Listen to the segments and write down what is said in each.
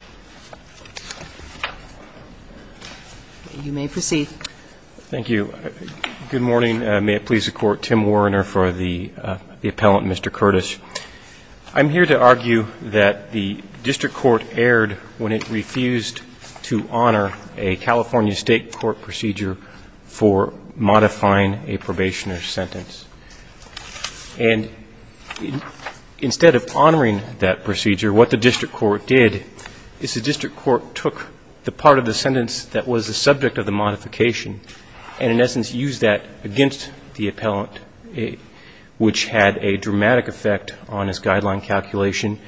I'm here to argue that the district court erred when it refused to honor a California state court procedure for modifying a probationer's sentence. And instead of honoring that procedure, what the district court did was to modify a probationer's sentence. And the district court took the part of the sentence that was the subject of the modification and, in essence, used that against the appellant, which had a dramatic effect on his guideline calculation.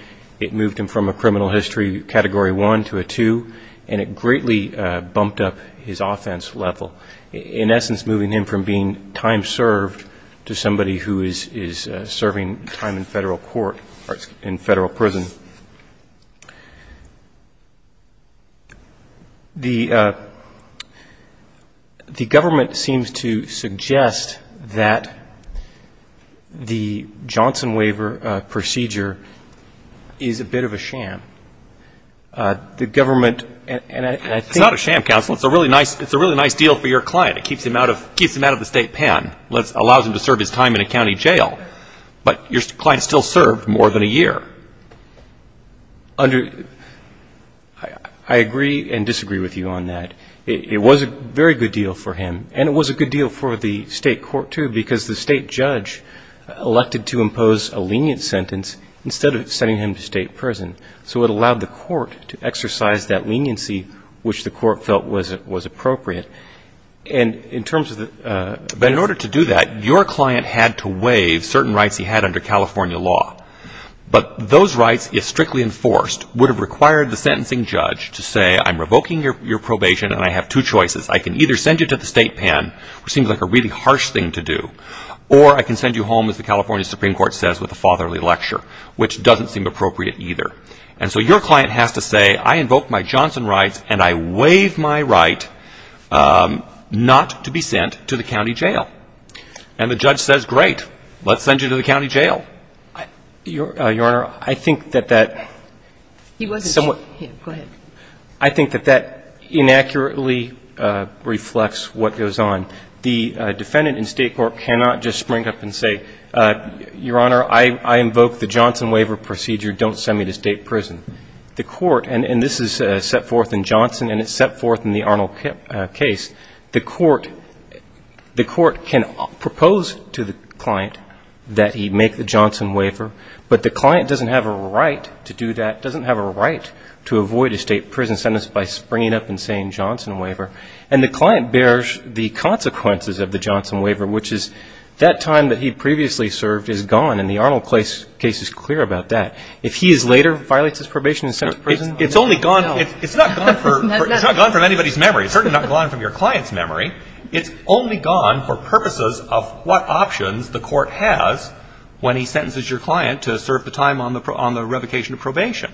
It moved him from a criminal history Category 1 to a 2, and it greatly bumped up his offense level, in essence moving him from being time served to somebody who is serving time in federal court or in federal prison. The government seems to suggest that the Johnson waiver procedure is a bit of a sham. It's not a sham, counsel. It's a really nice deal for your client. It keeps him out of the state pen, allows him to serve his time in a county jail. But your client still served more than a year. I agree and disagree with you on that. It was a very good deal for him. And it was a good deal for the state court, too, because the state judge elected to impose a lenient sentence instead of sending him to state prison. So it allowed the court to exercise that leniency, which the court felt was appropriate. But in order to do that, your client had to waive certain rights he had under California law. But those rights, if strictly enforced, would have required the sentencing judge to say, I'm revoking your probation and I have two choices. I can either send you to the state pen, which seems like a really harsh thing to do, or I can send you home, as the California Supreme Court says with a fatherly lecture, which doesn't seem appropriate either. And so your client has to say, I invoke my Johnson rights and I waive my right not to be sent to the county jail. And the judge says, great, let's send you to the county jail. Your Honor, I think that that somewhat go ahead. I think that that inaccurately reflects what goes on. The defendant in state court cannot just spring up and say, Your Honor, I invoke the Johnson waiver procedure, don't send me to state prison. The court, and this is set forth in Johnson and it's set forth in the Arnold case, the court can propose to the client that he make the Johnson waiver, but the client doesn't have a right to do that, doesn't have a right to avoid a state prison sentence by springing up and saying Johnson waiver. And the client bears the consequences of the Johnson waiver, which is that time that he previously served is gone, and the Arnold case is clear about that. If he is later, violates his probation in state prison. It's only gone, it's not gone from anybody's memory. It's certainly not gone from your client's memory. It's only gone for purposes of what options the court has when he sentences your client to serve the time on the revocation of probation.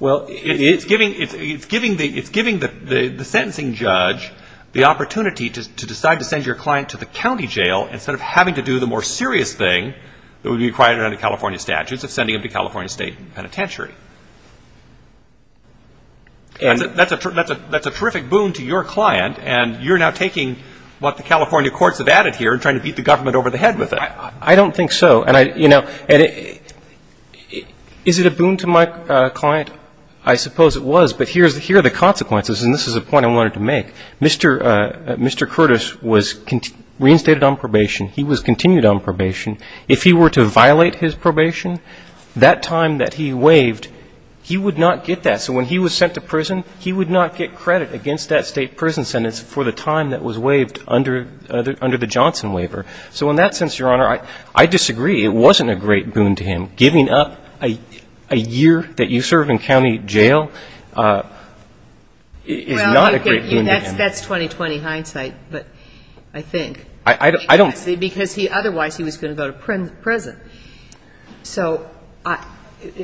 Well, it's giving the sentencing judge the opportunity to decide to send your client to the county jail instead of having to do the more serious thing that would be required under California statutes of sending him to California State Penitentiary. And that's a terrific boon to your client, and you're now taking what the California courts have added here and trying to beat the government over the head with it. I don't think so, and I, you know, is it a boon to my client? I suppose it was, but here are the consequences, and this is a point I wanted to make. Mr. Curtis was reinstated on probation. He was continued on probation. If he were to violate his probation, that time that he waived, he would not get that. So when he was sent to prison, he would not get credit against that state prison sentence for the time that was waived under the Johnson waiver. So in that sense, Your Honor, I disagree. It wasn't a great boon to him. Giving up a year that you served in county jail is not a great boon to him. Well, that's 2020 hindsight, but I think. I don't. Because otherwise he was going to go to prison. So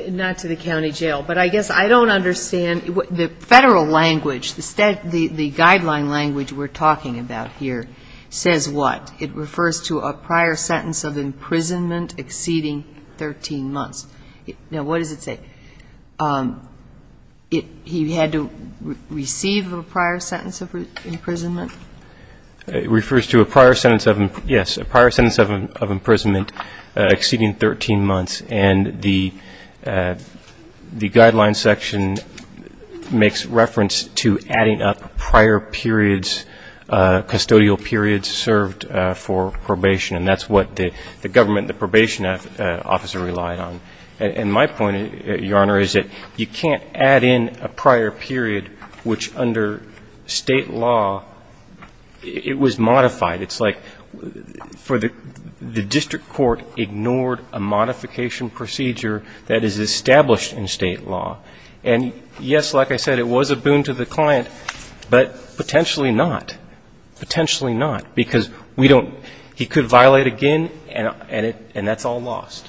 not to the county jail, but I guess I don't understand. The Federal language, the guideline language we're talking about here says what? It refers to a prior sentence of imprisonment exceeding 13 months. Now, what does it say? He had to receive a prior sentence of imprisonment? It refers to a prior sentence of, yes, a prior sentence of imprisonment exceeding 13 months. And the guideline section makes reference to adding up prior periods, custodial periods served for probation, and that's what the government, the probation officer relied on. And my point, Your Honor, is that you can't add in a prior period which under State law, it was modified. It's like for the district court ignored a modification procedure that is established in State law. And, yes, like I said, it was a boon to the client, but potentially not. Potentially not. Because we don't he could violate again, and that's all lost.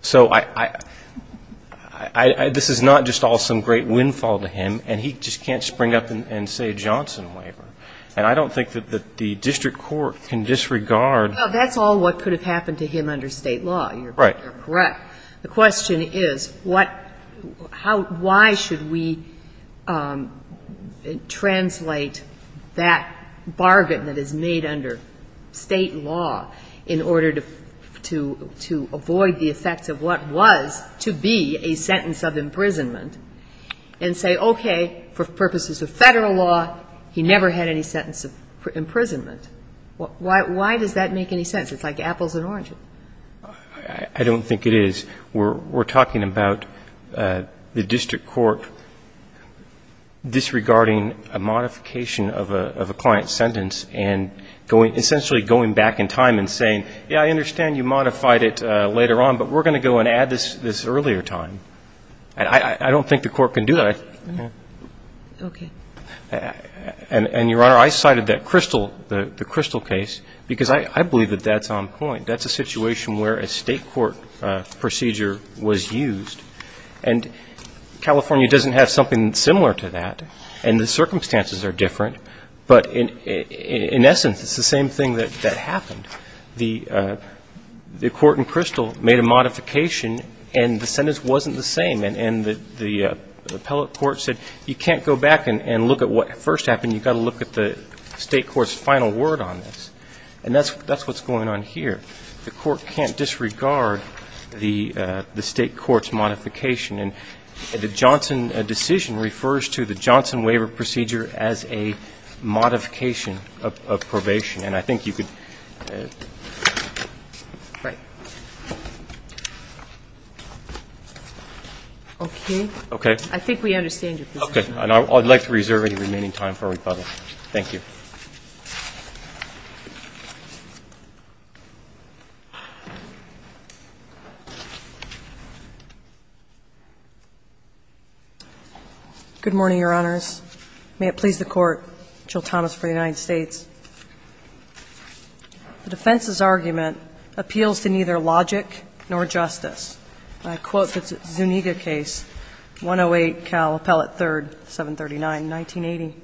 So this is not just all some great windfall to him, and he just can't spring up and say Johnson waiver. And I don't think that the district court can disregard. Well, that's all what could have happened to him under State law. You're correct. The question is what, how, why should we translate that bargain that is made under State law in order to avoid the effects of what was to be a sentence of imprisonment and say, okay, for purposes of Federal law, he never had any sentence of imprisonment. Why does that make any sense? It's like apples and oranges. I don't think it is. We're talking about the district court disregarding a modification of a client's sentence and essentially going back in time and saying, yeah, I understand you modified it later on, but we're going to go and add this earlier time. And I don't think the court can do that. Okay. And, Your Honor, I cited that Crystal, the Crystal case, because I believe that that's on point. That's a situation where a State court procedure was used. And California doesn't have something similar to that. And the circumstances are different. But in essence, it's the same thing that happened. The court in Crystal made a modification, and the sentence wasn't the same. And the appellate court said, you can't go back and look at what first happened. You've got to look at the State court's final word on this. And that's what's going on here. The court can't disregard the State court's modification. And the Johnson decision refers to the Johnson waiver procedure as a modification of probation. And I think you could. Right. Okay. Okay. I think we understand your position. Okay. And I would like to reserve any remaining time for rebuttal. Thank you. Good morning, Your Honors. May it please the Court, Jill Thomas for the United States. The defense's argument appeals to neither logic nor justice. I quote the Zuniga case, 108 Cal Appellate 3rd, 739, 1980.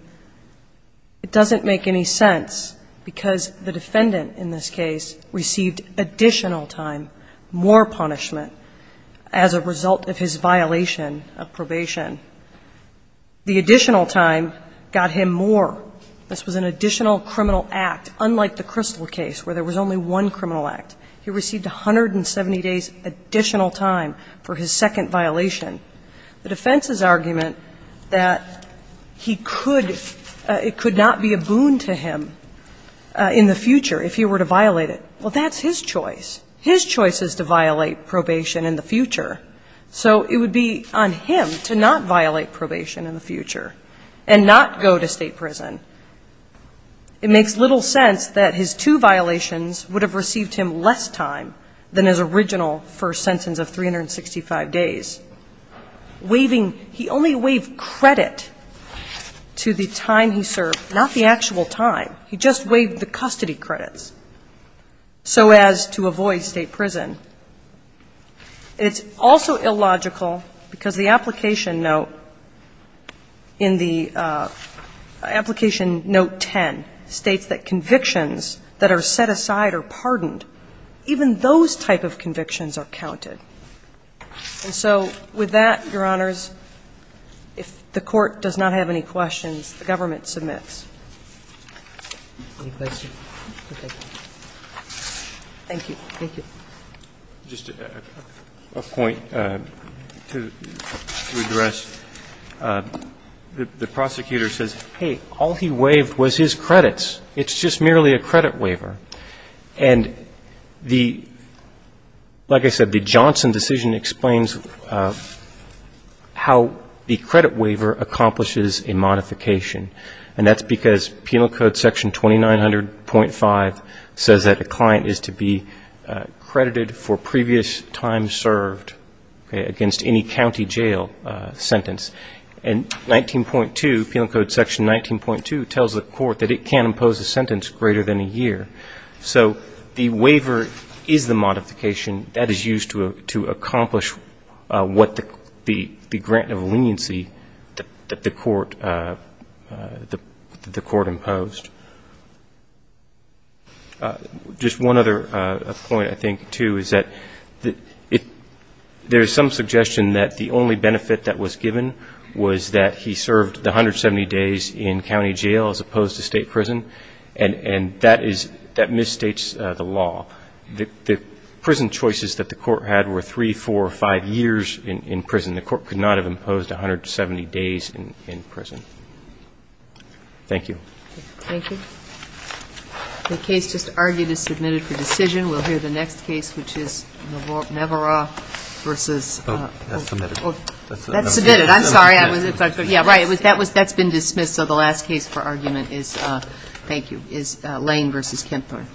It doesn't make any sense because the defendant in this case received additional time, more punishment, as a result of his violation of probation. The additional time got him more. This was an additional criminal act, unlike the Crystal case where there was only one criminal act. He received 170 days additional time for his second violation. The defense's argument that he could, it could not be a boon to him in the future if he were to violate it, well, that's his choice. His choice is to violate probation in the future. So it would be on him to not violate probation in the future and not go to State prison. It makes little sense that his two violations would have received him less time than his original first sentence of 365 days. Waiving, he only waived credit to the time he served, not the actual time. He just waived the custody credits so as to avoid State prison. And it's also illogical because the application note in the application note 10 states that convictions that are set aside are pardoned. Even those type of convictions are counted. And so with that, Your Honors, if the Court does not have any questions, the government submits. Thank you. Thank you. Just a point to address. The prosecutor says, hey, all he waived was his credits. It's just merely a credit waiver. And the, like I said, the Johnson decision explains how the credit waiver accomplishes a modification. And that's because Penal Code Section 2900.5 says that a client is to be credited for previous time served against any county jail sentence. And Penal Code Section 19.2 tells the Court that it can impose a sentence greater than a year. So the waiver is the modification that is used to accomplish what the grant of leniency that the Court imposed. Just one other point, I think, too, is that there is some suggestion that the only benefit that was given was that he served the 170 days in county jail as opposed to State prison. And that misstates the law. The prison choices that the Court had were three, four, or five years in prison. And the Court could not have imposed 170 days in prison. Thank you. Thank you. The case just argued is submitted for decision. We'll hear the next case, which is Navarro v. Oh, that's submitted. That's submitted. I'm sorry. Yeah, right. That's been dismissed. So the last case for argument is, thank you, is Lane v. Kempthorn.